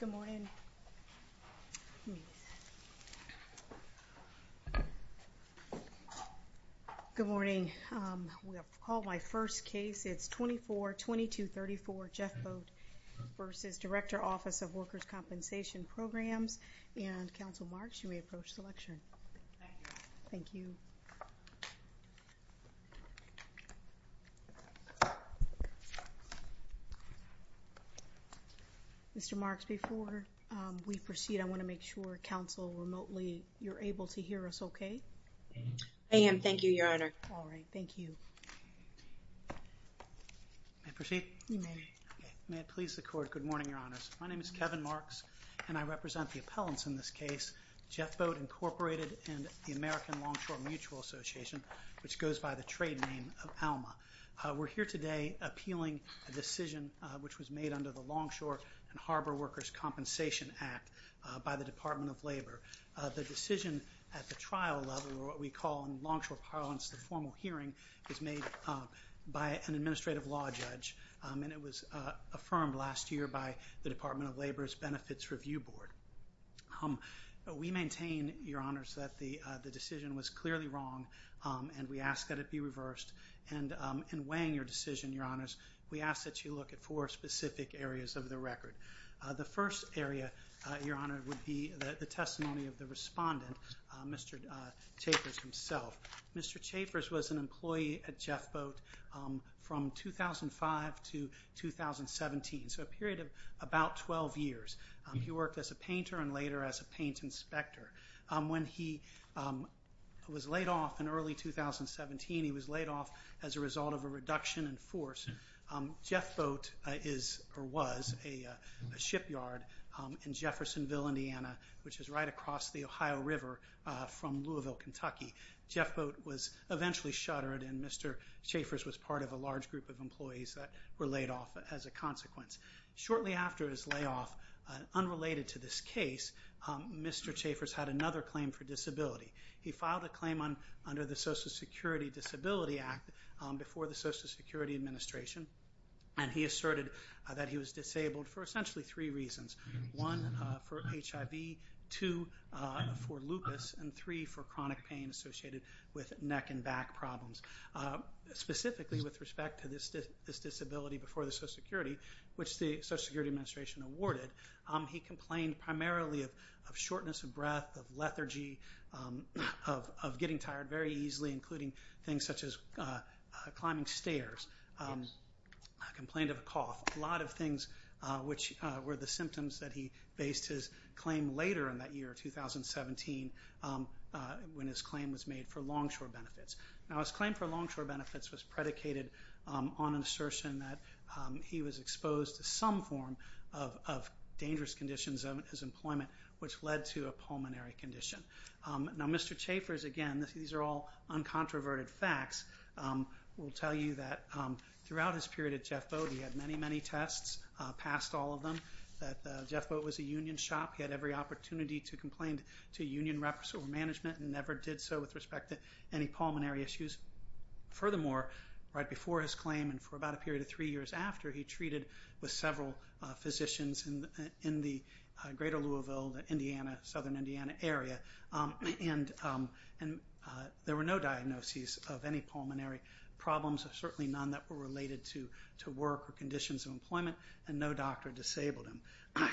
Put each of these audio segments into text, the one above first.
Good morning. We have called my first case. It's 24-2234 Jeffboat v. Director, Office of Workers' Compensation Programs. And, Council Marks, you may approach the lectern. Thank you. Before we proceed, I want to make sure, Council, remotely, you're able to hear us okay? I am. Thank you, Your Honor. All right. Thank you. May I proceed? You may. May it please the Court, good morning, Your Honors. My name is Kevin Marks, and I represent the appellants in this case, Jeffboat, Incorporated and the American Longshore Mutual Association, which goes by the trade name of ALMA. We're here today appealing a decision which was made under the Longshore and Harbor Workers' Compensation Act by the Department of Labor. The decision at the trial level, or what we call in longshore parlance the formal hearing, is made by an administrative law judge, and it was affirmed last year by the Department of Labor's Benefits Review Board. We maintain, Your Honors, that the decision was clearly wrong, and we ask that it be reversed. And in weighing your decision, Your Honors, we ask that you look at four specific areas of the record. The first area, Your Honor, would be the testimony of the respondent, Mr. Chaffers himself. Mr. Chaffers was an employee at Jeffboat from 2005 to 2017, so a period of about 12 years. He worked as a painter and later as a paint inspector. When he was laid off in early 2017, he was laid off as a result of a reduction in force. Jeffboat is, or was, a shipyard in Jeffersonville, Indiana, which is right across the Ohio River from Louisville, Kentucky. Jeffboat was eventually shuttered, and Mr. Chaffers was part of a large group of employees that were laid off as a consequence. Shortly after his layoff, unrelated to this case, Mr. Chaffers had another claim for disability. He filed a claim under the Social Security Disability Act before the Social Security Administration, and he asserted that he was disabled for essentially three reasons. One, for HIV, two, for lupus, and three, for chronic pain associated with neck and back problems. Specifically with respect to this disability before the Social Security, which the Social Security Administration awarded, he complained primarily of shortness of breath, of lethargy, of getting tired very easily, including things such as climbing stairs, complained of a cough, a lot of things which were the symptoms that he based his claim later in that year, 2017, when his claim was made for longshore benefits. Now his claim for longshore benefits was predicated on an assertion that he was exposed to some form of dangerous conditions of his employment, which led to a pulmonary condition. Now Mr. Chaffers, again, these are all uncontroverted facts, will tell you that throughout his period at Jeff Boat, he had many, many tests, passed all of them, that Jeff Boat was a union shop, he had every opportunity to complain to union reps or management, and never did so with respect to any pulmonary issues. Furthermore, right before his claim and for about a period of three years after, he treated with several physicians in the greater Louisville, the southern Indiana area, and there were no diagnoses of any pulmonary problems, certainly none that were related to work or conditions of employment, and no doctor disabled him.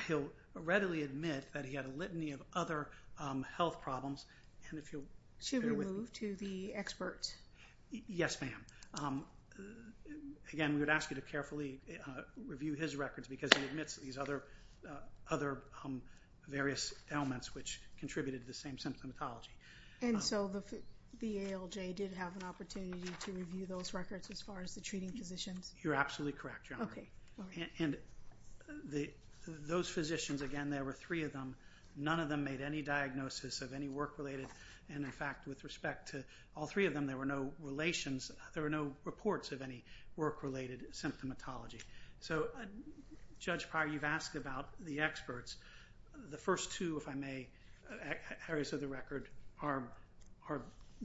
He'll readily admit that he had a litany of other health problems, and if you'll bear with me... Should we move to the expert? Yes, ma'am. Again, we would ask you to carefully review his records because he admits these other various ailments which contributed to the same symptomatology. And so the ALJ did have an opportunity to review those records as far as the treating physicians? You're absolutely correct, Your Honor. And those physicians, again, there were three of them, none of them made any diagnosis of any work-related, and in fact, with respect to all three of them, there were no reports of any work-related symptomatology. So Judge Pryor, you've asked about the experts. The first two, if I may, areas of the record are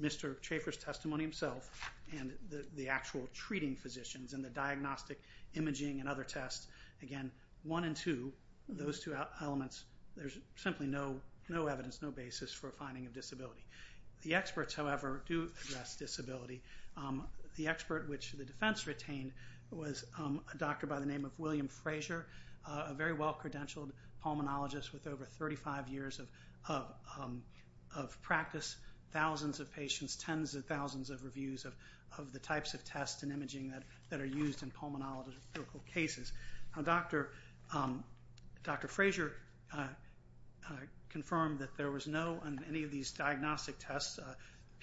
Mr. Chaffer's testimony himself and the actual treating physicians and the diagnostic imaging and other tests. Again, one and two, those two elements, there's simply no evidence, no basis for a finding of disability. The experts, however, do address disability. The expert which the defense retained was a doctor by the name of William Frazier, a very well-credentialed pulmonologist with over 35 years of practice, thousands of patients, tens of thousands of reviews of the types of tests and imaging that are used in pulmonological cases. Now, Dr. Frazier confirmed that there was no, in any of these diagnostic tests,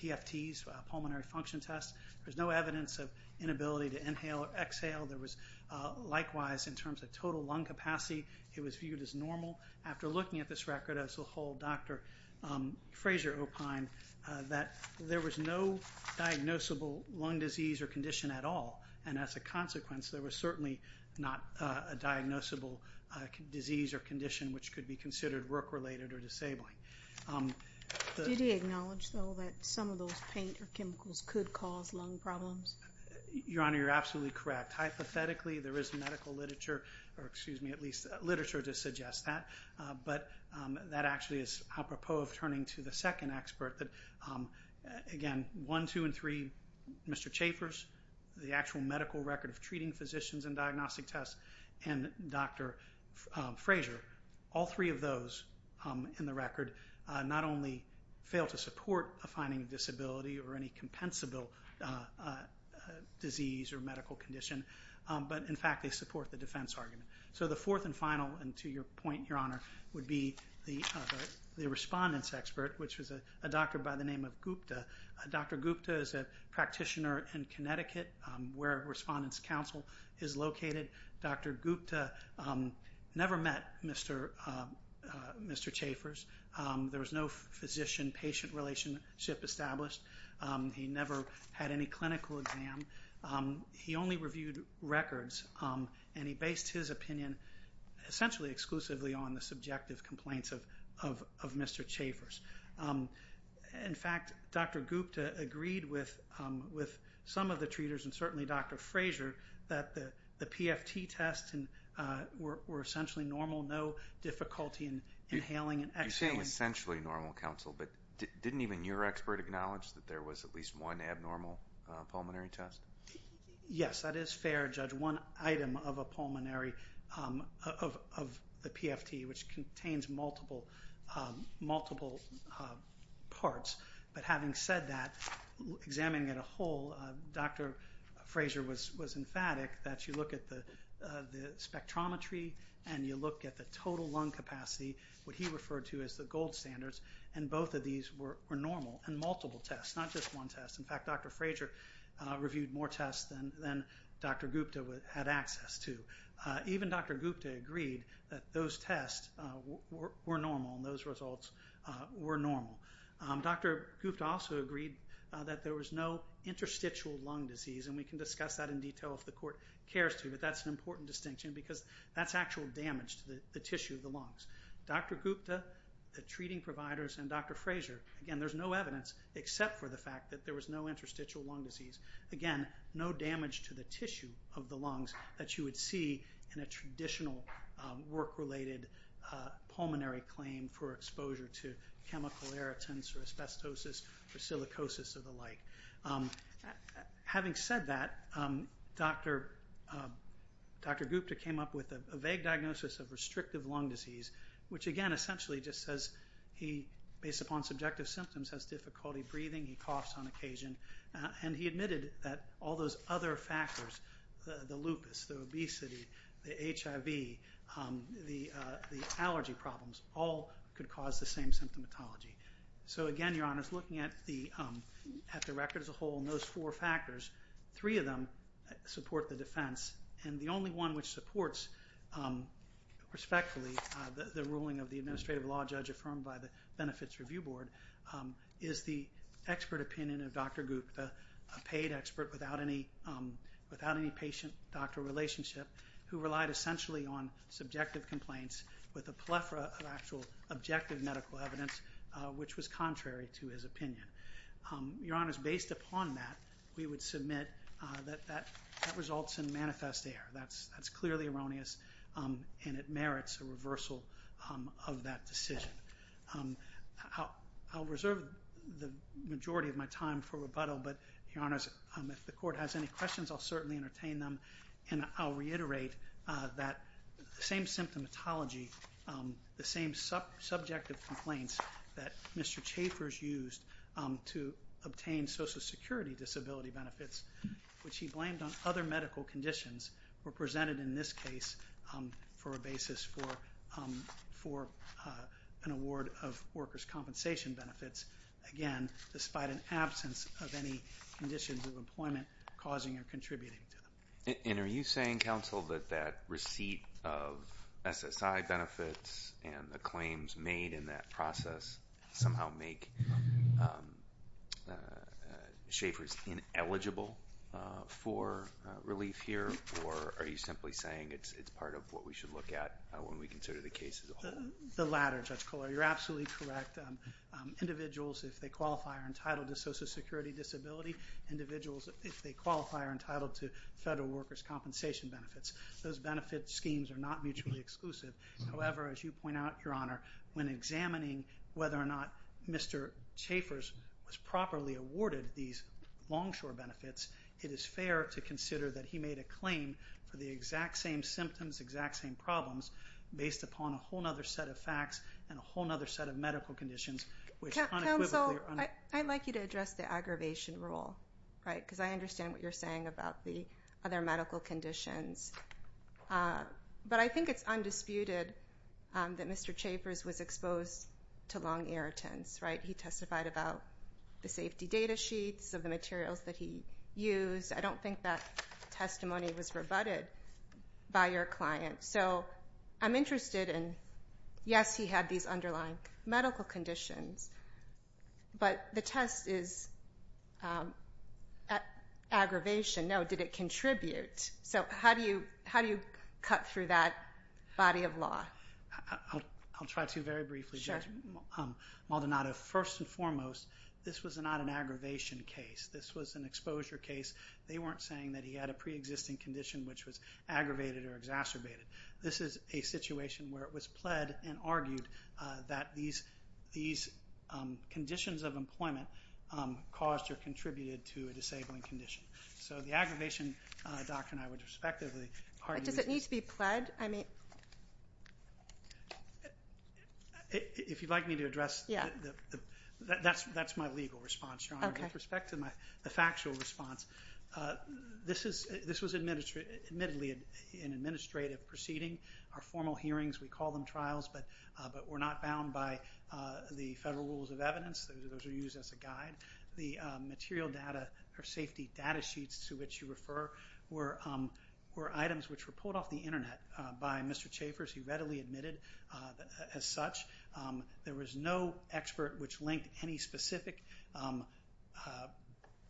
PFTs, pulmonary function tests, there's no evidence of inability to inhale or exhale. There was likewise in terms of total lung capacity, it was viewed as normal. After looking at this record as a whole, Dr. Frazier opined that there was no diagnosable lung disease or condition at all, and as a consequence, there was certainly not a diagnosable disease or condition which could be considered work-related or disabling. Did he acknowledge, though, that some of those paint or chemicals could cause lung problems? Your Honor, you're absolutely correct. Hypothetically, there is medical literature, or excuse me, at least literature to suggest that, but that actually is apropos of turning to the second papers, the actual medical record of treating physicians and diagnostic tests, and Dr. Frazier. All three of those in the record not only fail to support a finding of disability or any compensable disease or medical condition, but in fact they support the defense argument. So the fourth and final, and to your point, Your Honor, would be the respondent's expert, which was a doctor by the name of Gupta. Dr. Gupta is a practitioner in Connecticut, where Respondent's Council is located. Dr. Gupta never met Mr. Chaffers. There was no physician-patient relationship established. He never had any clinical exam. He only reviewed records, and he based his opinion essentially exclusively on the subjective complaints of Mr. Chaffers. In fact, Dr. Gupta agreed with some of the treaters, and certainly Dr. Frazier, that the PFT tests were essentially normal, no difficulty in inhaling and exhaling. You're saying essentially normal, counsel, but didn't even your expert acknowledge that there was at least one abnormal pulmonary test? Yes, that is fair, Judge. One item of a pulmonary, of the PFT, which contains multiple parts. But having said that, examining it whole, Dr. Frazier was emphatic that you look at the spectrometry and you look at the total lung capacity, what he referred to as the gold standards, and both of these were normal, and multiple tests, not just one test. In fact, he reviewed more tests than Dr. Gupta had access to. Even Dr. Gupta agreed that those tests were normal, and those results were normal. Dr. Gupta also agreed that there was no interstitial lung disease, and we can discuss that in detail if the court cares to, but that's an important distinction because that's actual damage to the tissue of the lungs. Dr. Gupta, the treating providers, and Dr. Frazier, again, there's no evidence except for the fact that there was no interstitial lung disease. Again, no damage to the tissue of the lungs that you would see in a traditional work-related pulmonary claim for exposure to chemical irritants or asbestosis or silicosis or the like. Having said that, Dr. Gupta came up with a vague diagnosis of restrictive lung disease, which again essentially just says he, based upon subjective symptoms, has difficulty breathing, he coughs on occasion, and he admitted that all those other factors, the lupus, the obesity, the HIV, the allergy problems, all could cause the same symptomatology. Again, Your Honor, looking at the record as a whole and those four factors, three of them support the defense, and the only one which supports respectfully the ruling of the Administrative Law Judge affirmed by the Benefits Review Board is the expert opinion of Dr. Gupta, a paid expert without any patient-doctor relationship who relied essentially on subjective complaints with a plethora of actual objective medical evidence, which was contrary to his opinion. Your Honor, based upon that, we would submit that that results in manifest error. That's clearly erroneous and it merits a reversal of that decision. I'll reserve the majority of my time for rebuttal, but Your Honor, if the Court has any questions, I'll certainly entertain them, and I'll reiterate that the same symptomatology, the same subjective complaints that Mr. Chaffers used to obtain Social Security disability benefits, which he blamed on other medical conditions, were presented in this case for a basis for an award of workers' compensation benefits, again, despite an absence of any conditions of employment causing or contributing to them. And are you saying, counsel, that that receipt of SSI benefits and the claims made in that process somehow make Chaffers ineligible for relief here, or are you simply saying it's part of what we should look at when we consider the case as a whole? The latter, Judge Kohler. You're absolutely correct. Individuals, if they qualify, are entitled to Social Security disability. Individuals, if they qualify, are entitled to federal workers' compensation benefits. Those benefit schemes are not mutually exclusive. However, as you pointed out, Your Honor, when examining whether or not Mr. Chaffers was properly awarded these longshore benefits, it is fair to consider that he made a claim for the exact same symptoms, exact same problems, based upon a whole other set of facts and a whole other set of medical conditions which unequivocally are unequal. Counsel, I'd like you to address the aggravation rule, right, because I understand what you're saying. Mr. Chaffers was exposed to long irritants, right? He testified about the safety data sheets of the materials that he used. I don't think that testimony was rebutted by your client. So I'm interested in, yes, he had these underlying medical conditions, but the test is aggravation. No, did it contribute? So how do you cut through that body of law? I'll try to very briefly, Judge Maldonado. First and foremost, this was not an aggravation case. This was an exposure case. They weren't saying that he had a pre-existing condition which was aggravated or exacerbated. This is a situation where it was pled and argued that these conditions of employment caused or contributed to a disabling condition. So the aggravation doctrine, I would respectively argue is... If you'd like me to address... That's my legal response, Your Honor. With respect to the factual response, this was admittedly an administrative proceeding. Our formal hearings, we call them trials, but we're not bound by the federal rules of evidence. Those are used as a guide. The material data or safety data sheets to which you refer were items which were pulled off the internet by Mr. Chaffers. He readily admitted as such. There was no expert which linked any specific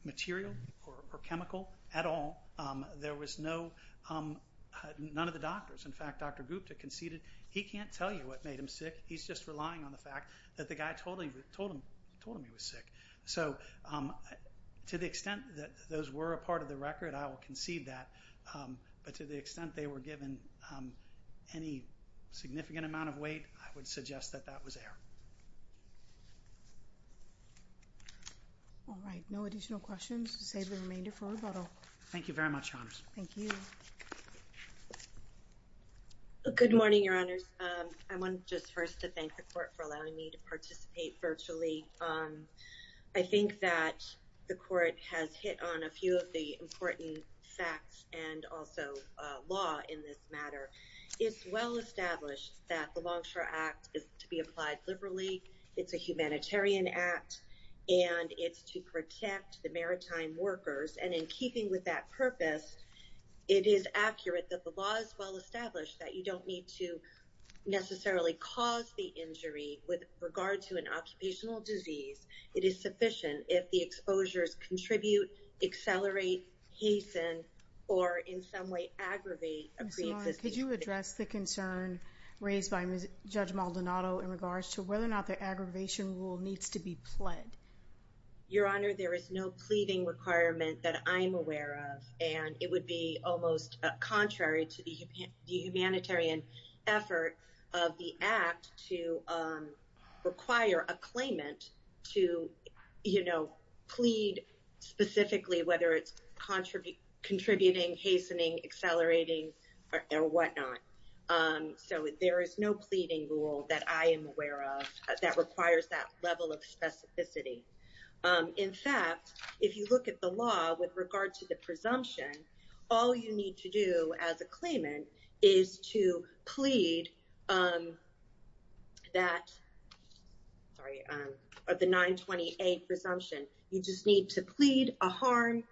material or chemical at all. There was no... None of the doctors. In fact, Dr. Gupta conceded, he can't tell you what made him sick. He's just relying on the fact that the guy told him he was sick. So to the extent that those were a part of the record, I will concede that. But to the extent they were given any significant amount of weight, I would suggest that that was error. All right. No additional questions. Save the remainder for rebuttal. Thank you very much, Your Honors. Thank you. Good morning, Your Honors. I want just first to thank the court for allowing me to participate virtually. I think that the court has hit on a few of the important facts and also law in this matter. It's well established that the Longshore Act is to be applied liberally. It's a humanitarian act, and it's to protect the maritime workers. And in keeping with that purpose, it is accurate that the law is well established that you don't need to necessarily cause the injury with regard to an occupational disease. It is sufficient if the exposures contribute, accelerate, hasten, or in some way aggravate a pre-existing condition. Ms. Long, could you address the concern raised by Judge Maldonado in regards to whether or not the aggravation rule needs to be pled? Your Honor, there is no pleading requirement that I'm aware of, and it would be almost contrary to the humanitarian effort of the Act to require a claimant to, you know, plead specifically whether it's contributing, hastening, accelerating, or whatnot. So there is no pleading rule that I am aware of that requires that level of specificity. In fact, if you look at the law with regard to the presumption, all you need to do as a claimant is to plead that, sorry, of the 928 presumption. You just need to plead a harm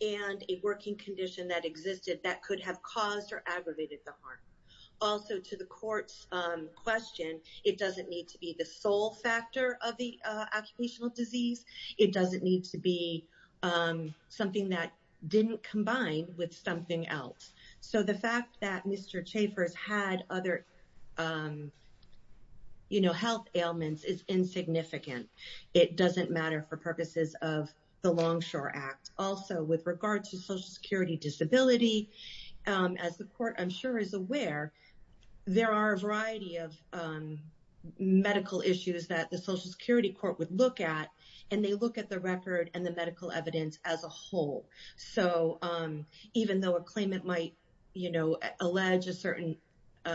and a working condition that existed that could have caused or aggravated the harm. Also, to the Court's question, it doesn't need to be the sole factor of the occupational disease. It doesn't need to be something that didn't combine with something else. So the fact that Mr. Chaffer's had other, you know, health ailments is insignificant. It doesn't matter for purposes of the Longshore Act. Also, with regard to Social Security disability, as the Court, I'm sure, is aware, there are a variety of medical issues that the Social Security Court would look at, and they look at the record and the medical evidence as a whole. So even though a claimant might, you know, allege a certain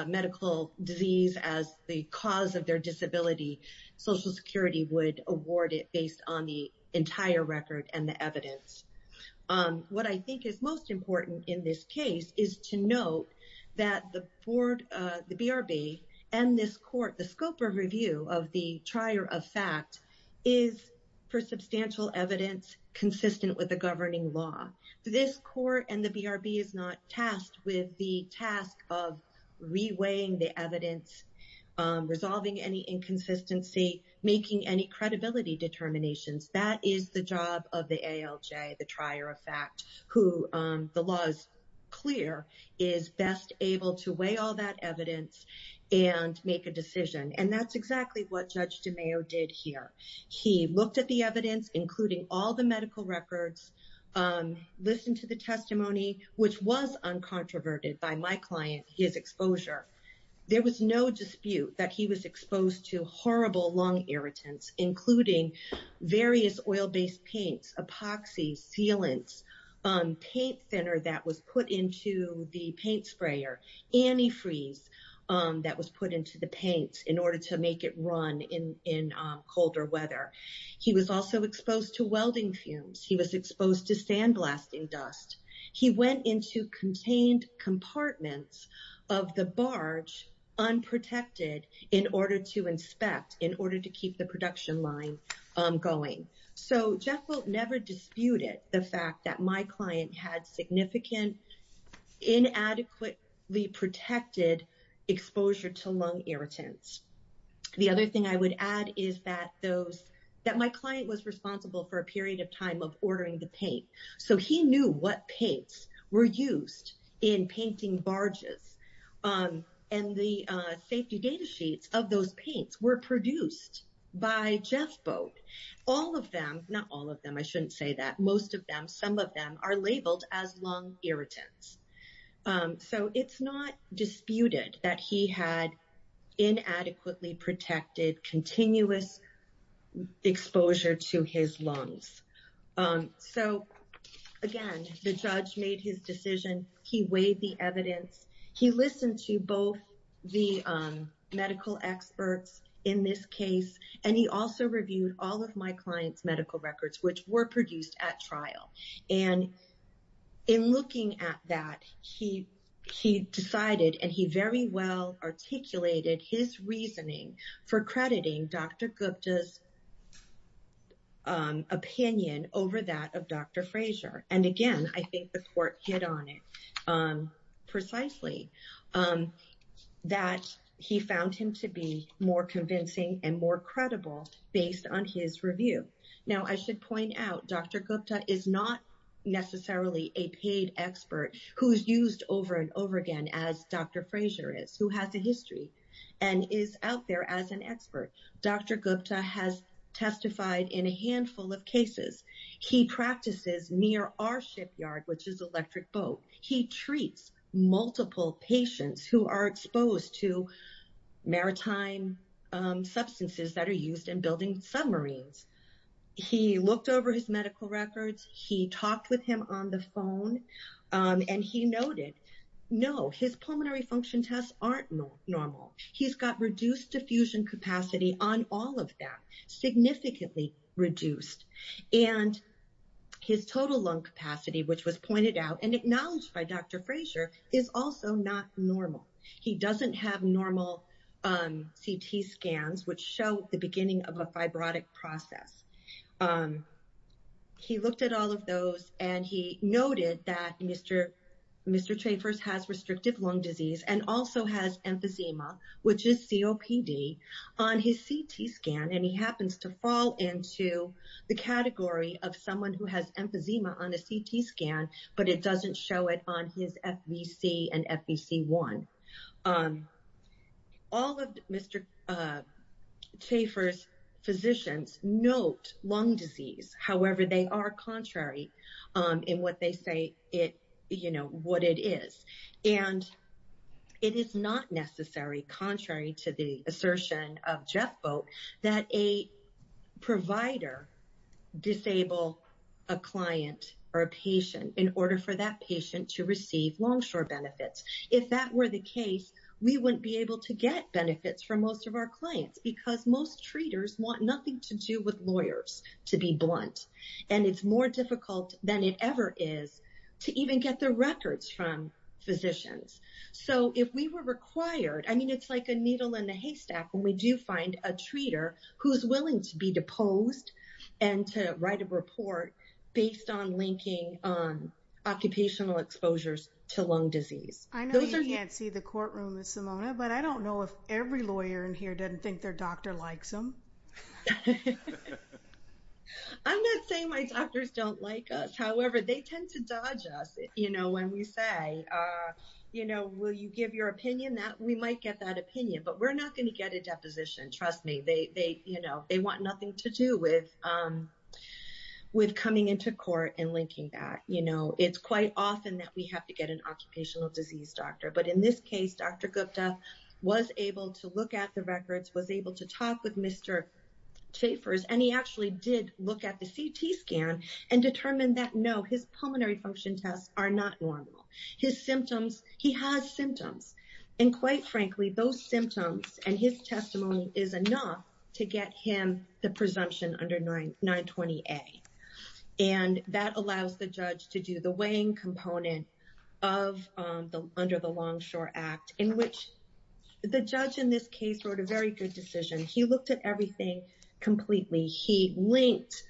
medical disease as the cause of their disability, Social Security would award it based on the entire record and the evidence. What I think is most important in this case is to note that the Board, the BRB, and this Court, the scope of review of the trier of fact is for substantial evidence consistent with the governing law. This Court and the BRB is not tasked with the task of reweighing the evidence, resolving any inconsistency, making any credibility determinations. That is the job of the ALJ, the trier of fact, who, the law is clear, is best able to weigh all that evidence and make a decision. And that's exactly what Judge DeMeo did here. He looked at the evidence, including all the medical records, listened to the testimony, which was uncontroverted by my client, his exposure. There was no dispute that he was exposed to horrible lung irritants, including various oil-based paints, epoxy, sealants, paint thinner that was put into the paint sprayer, antifreeze that was put into the paints in order to make it run in colder weather. He was also exposed to welding fumes. He was exposed to sandblasting dust. He went into contained compartments of the barge, unprotected, in order to inspect, in order to keep the production line going. So Jeff Wilt never disputed the fact that my client had significant, inadequately protected exposure to lung irritants. The other thing I would add is that those, that my client was responsible for a period of time of ordering the paint. So he knew what paints were used in painting barges. And the safety data sheets of those paints were produced by Jeff Boat. All of them, not all of them, I shouldn't say that, most of them, some of them are labeled as lung irritants. So it's not disputed that he had inadequately protected continuous exposure to his lungs. So, again, the judge made his decision. He weighed the evidence. He listened to both the medical experts in this case. And he also reviewed all of my client's medical records, which were produced at trial. And in looking at that, he decided, and he very well articulated his reasoning for crediting Dr. Gupta's opinion over that of Dr. Fraser. And, again, I think the court hit on it precisely, that he found him to be more convincing and more credible based on his review. Now, I should point out, Dr. Gupta is not necessarily a paid expert who's used over and over again, as Dr. Fraser is, who has a history and is out there as an expert. Dr. Gupta has testified in a handful of cases. He practices near our shipyard, which is Electric Boat. He treats multiple patients who are exposed to maritime substances that are used in building submarines. He looked over his medical records. He talked with him on the phone and he noted, no, his pulmonary function tests aren't normal. He's got reduced diffusion capacity on all of that, significantly reduced. And his total lung capacity, which was pointed out and acknowledged by Dr. Fraser, is also not normal. He doesn't have normal CT scans, which show the beginning of a fibrotic process. He looked at all of those and he noted that Mr. Chaffer's has restrictive lung disease and also has emphysema, which is COPD, on his CT scan. And he happens to fall into the category of someone who has emphysema on a CT scan, but it doesn't show it on his FVC and FVC1. All of Mr. Chaffer's physicians note lung disease. However, they are contrary in what they say it, you know, what it is. And it is not necessary, contrary to the assertion of Jeff Boat, that a provider disable a client or a patient in order for that patient to receive Longshore benefits. If that were the case, we wouldn't be able to get benefits from most of our clients because most treaters want nothing to do with lawyers to be blunt. And it's more difficult than it ever is to even get the records from physicians. So if we were required, I mean, it's like a needle in a haystack when we do find a treater who's willing to be deposed and to write a report based on linking on occupational exposures to lung disease. I know you can't see the courtroom, Ms. Simona, but I don't know if every lawyer in here doesn't think their doctor likes them. I'm not saying my doctors don't like us. However, they tend to dodge us, you know, when we say, you know, will you give your opinion that we might get that opinion, but we're not going to get a deposition. Trust me, they, you know, they want nothing to do with, with coming into court and linking that, you know, it's quite often that we have to get an occupational disease doctor. But in this case, Dr. Gupta was able to look at the records, was able to talk with Mr. Chaffers, and he actually did look at the CT scan and determined that no, his pulmonary function tests are not normal. His symptoms, he has symptoms. And quite frankly, those symptoms and his testimony is enough to get him the presumption under 920A. And that allows the judge to do the weighing component of the, under the Longshore Act, in which the judge in this case wrote a very good decision. He looked at everything completely. He linked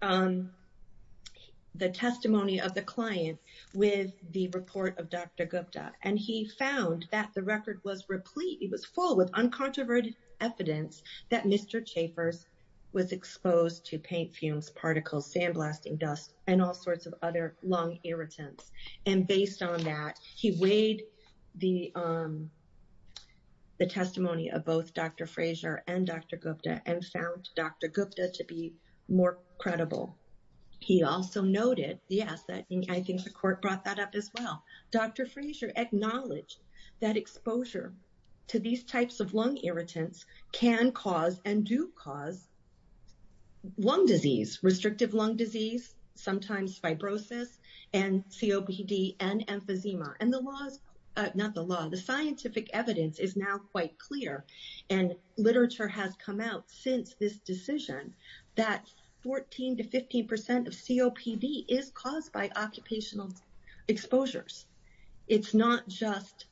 the testimony of the client with the report of Dr. Gupta. And he found that the record was replete, it was full with uncontroverted evidence that Mr. Chaffers was exposed to paint fumes, particles, sandblasting dust, and all sorts of other lung irritants. And based on that, he weighed the, the testimony of both Dr. Frazier and Dr. Gupta and found Dr. Gupta to be more credible. He also noted, yes, that I think the court brought that up as well. Dr. Frazier acknowledged that exposure to these types of lung irritants can cause and do cause lung disease, restrictive lung disease, sometimes fibrosis and COPD and emphysema. And the laws, not the law, the scientific evidence is now quite clear. And literature has come out since this decision that 14 to 15% of COPD is caused by occupational exposures. It's not just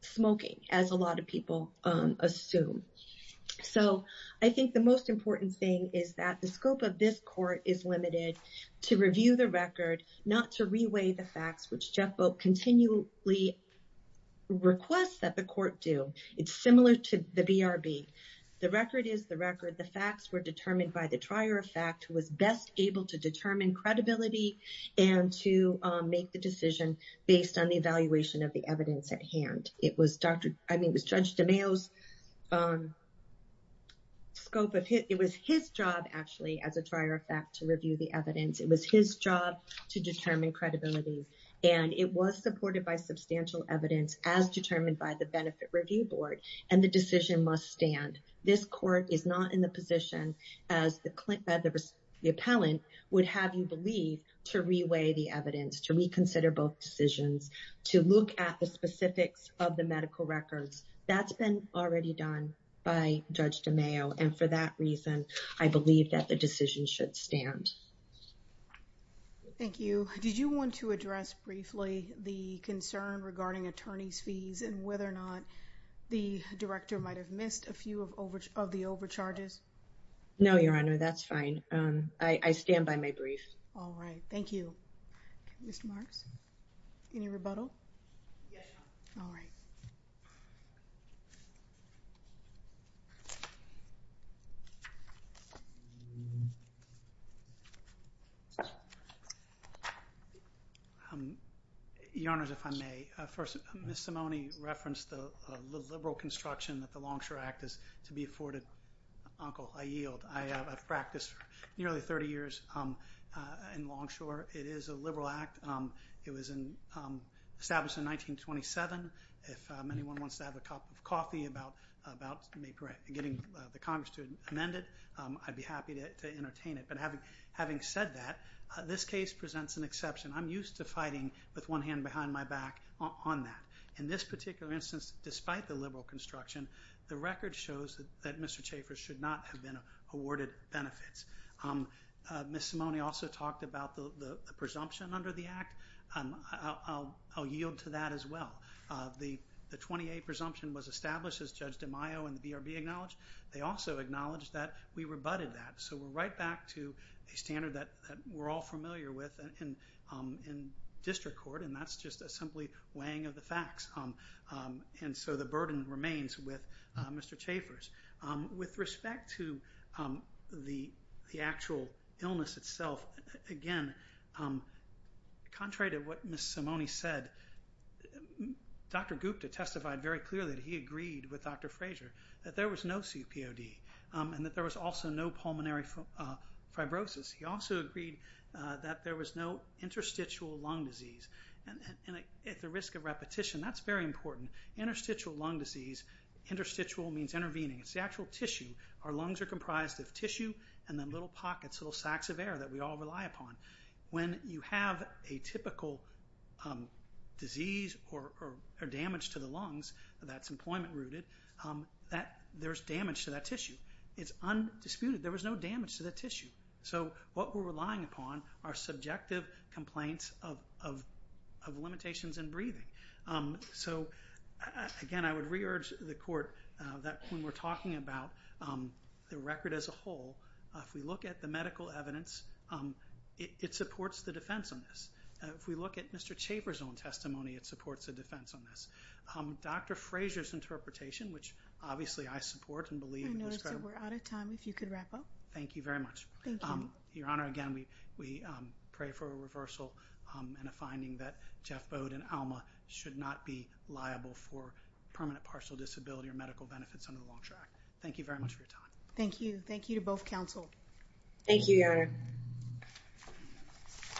smoking, as a lot of people assume. So I think the most important thing is that the scope of this court is limited to review the record, not to reweigh the facts, which Jeff Boak continually requests that the court do. It's similar to the BRB. The record is the record. The facts were determined by the trier of fact who was best able to determine credibility and to make the decision based on the evaluation of the evidence at hand. It was Dr. I mean, it was Judge DeMeo's scope of hit. It was his job actually as a trier of fact to review the evidence. It was his job to determine credibility and it was supported by substantial evidence as determined by the benefit review board and the decision must stand. This court is not in the position as the appellant would have you believe to reweigh the evidence, to reconsider both decisions, to look at the specifics of the medical records. That's been already done by Judge DeMeo. And for that reason, I believe that the decision should stand. Thank you. Did you want to address briefly the concern regarding attorney's fees and whether or not the director might have missed a few of the overcharges? No, Your Honor. That's fine. I stand by my brief. All right. Thank you. Mr. Marks, any rebuttal? Yes, Your Honor. All right. Your Honor, if I may. First, Ms. Simone referenced the liberal construction that the Longshore Act is to be afforded. Uncle, I yield. I have practiced nearly 30 years in Longshore. It is a liberal act. It was established in 1927. If anyone wants to have a cup of coffee about getting the Congress to amend it, I'd be happy to entertain it. But having said that, this case presents an exception. I'm used to fighting with one hand behind my back on that. In this particular instance, despite the liberal construction, the record shows that Mr. Chaffer should not have been awarded benefits. Ms. Simone also talked about the presumption under the act. I'll yield to that as well. The 20A presumption was established, as Judge DeMaio and the BRB acknowledged. They also acknowledged that we rebutted that. So we're right back to a standard that we're all familiar with in district court, and that's just a simply weighing of the facts. And so the burden remains with Mr. Chaffer's. With respect to the actual illness itself, again, contrary to what Ms. Simone said, Dr. Gupta testified very clearly that he agreed with Dr. Frazier that there was no CPOD and that there was also no pulmonary fibrosis. He also agreed that there was no interstitial lung disease. And at the risk of repetition, that's very important. Interstitial lung disease, interstitial means intervening. It's the actual tissue. Our lungs are comprised of tissue and then little pockets, little sacks of air that we all rely upon. When you have a typical disease or damage to the lungs that's employment-rooted, there's damage to that tissue. It's undisputed. And there was no damage to the tissue. So what we're relying upon are subjective complaints of limitations in breathing. So, again, I would re-urge the court that when we're talking about the record as a whole, if we look at the medical evidence, it supports the defense on this. If we look at Mr. Chaffer's own testimony, it supports the defense on this. Dr. Frazier's interpretation, which obviously I support and believe in this federal... I notice that we're out of time. If you could wrap up. Thank you very much. Thank you. Your Honor, again, we pray for a reversal and a finding that Jeff Bode and Alma should not be liable for permanent partial disability or medical benefits under the Long-Track. Thank you very much for your time. Thank you. Thank you to both counsel. Thank you, Your Honor.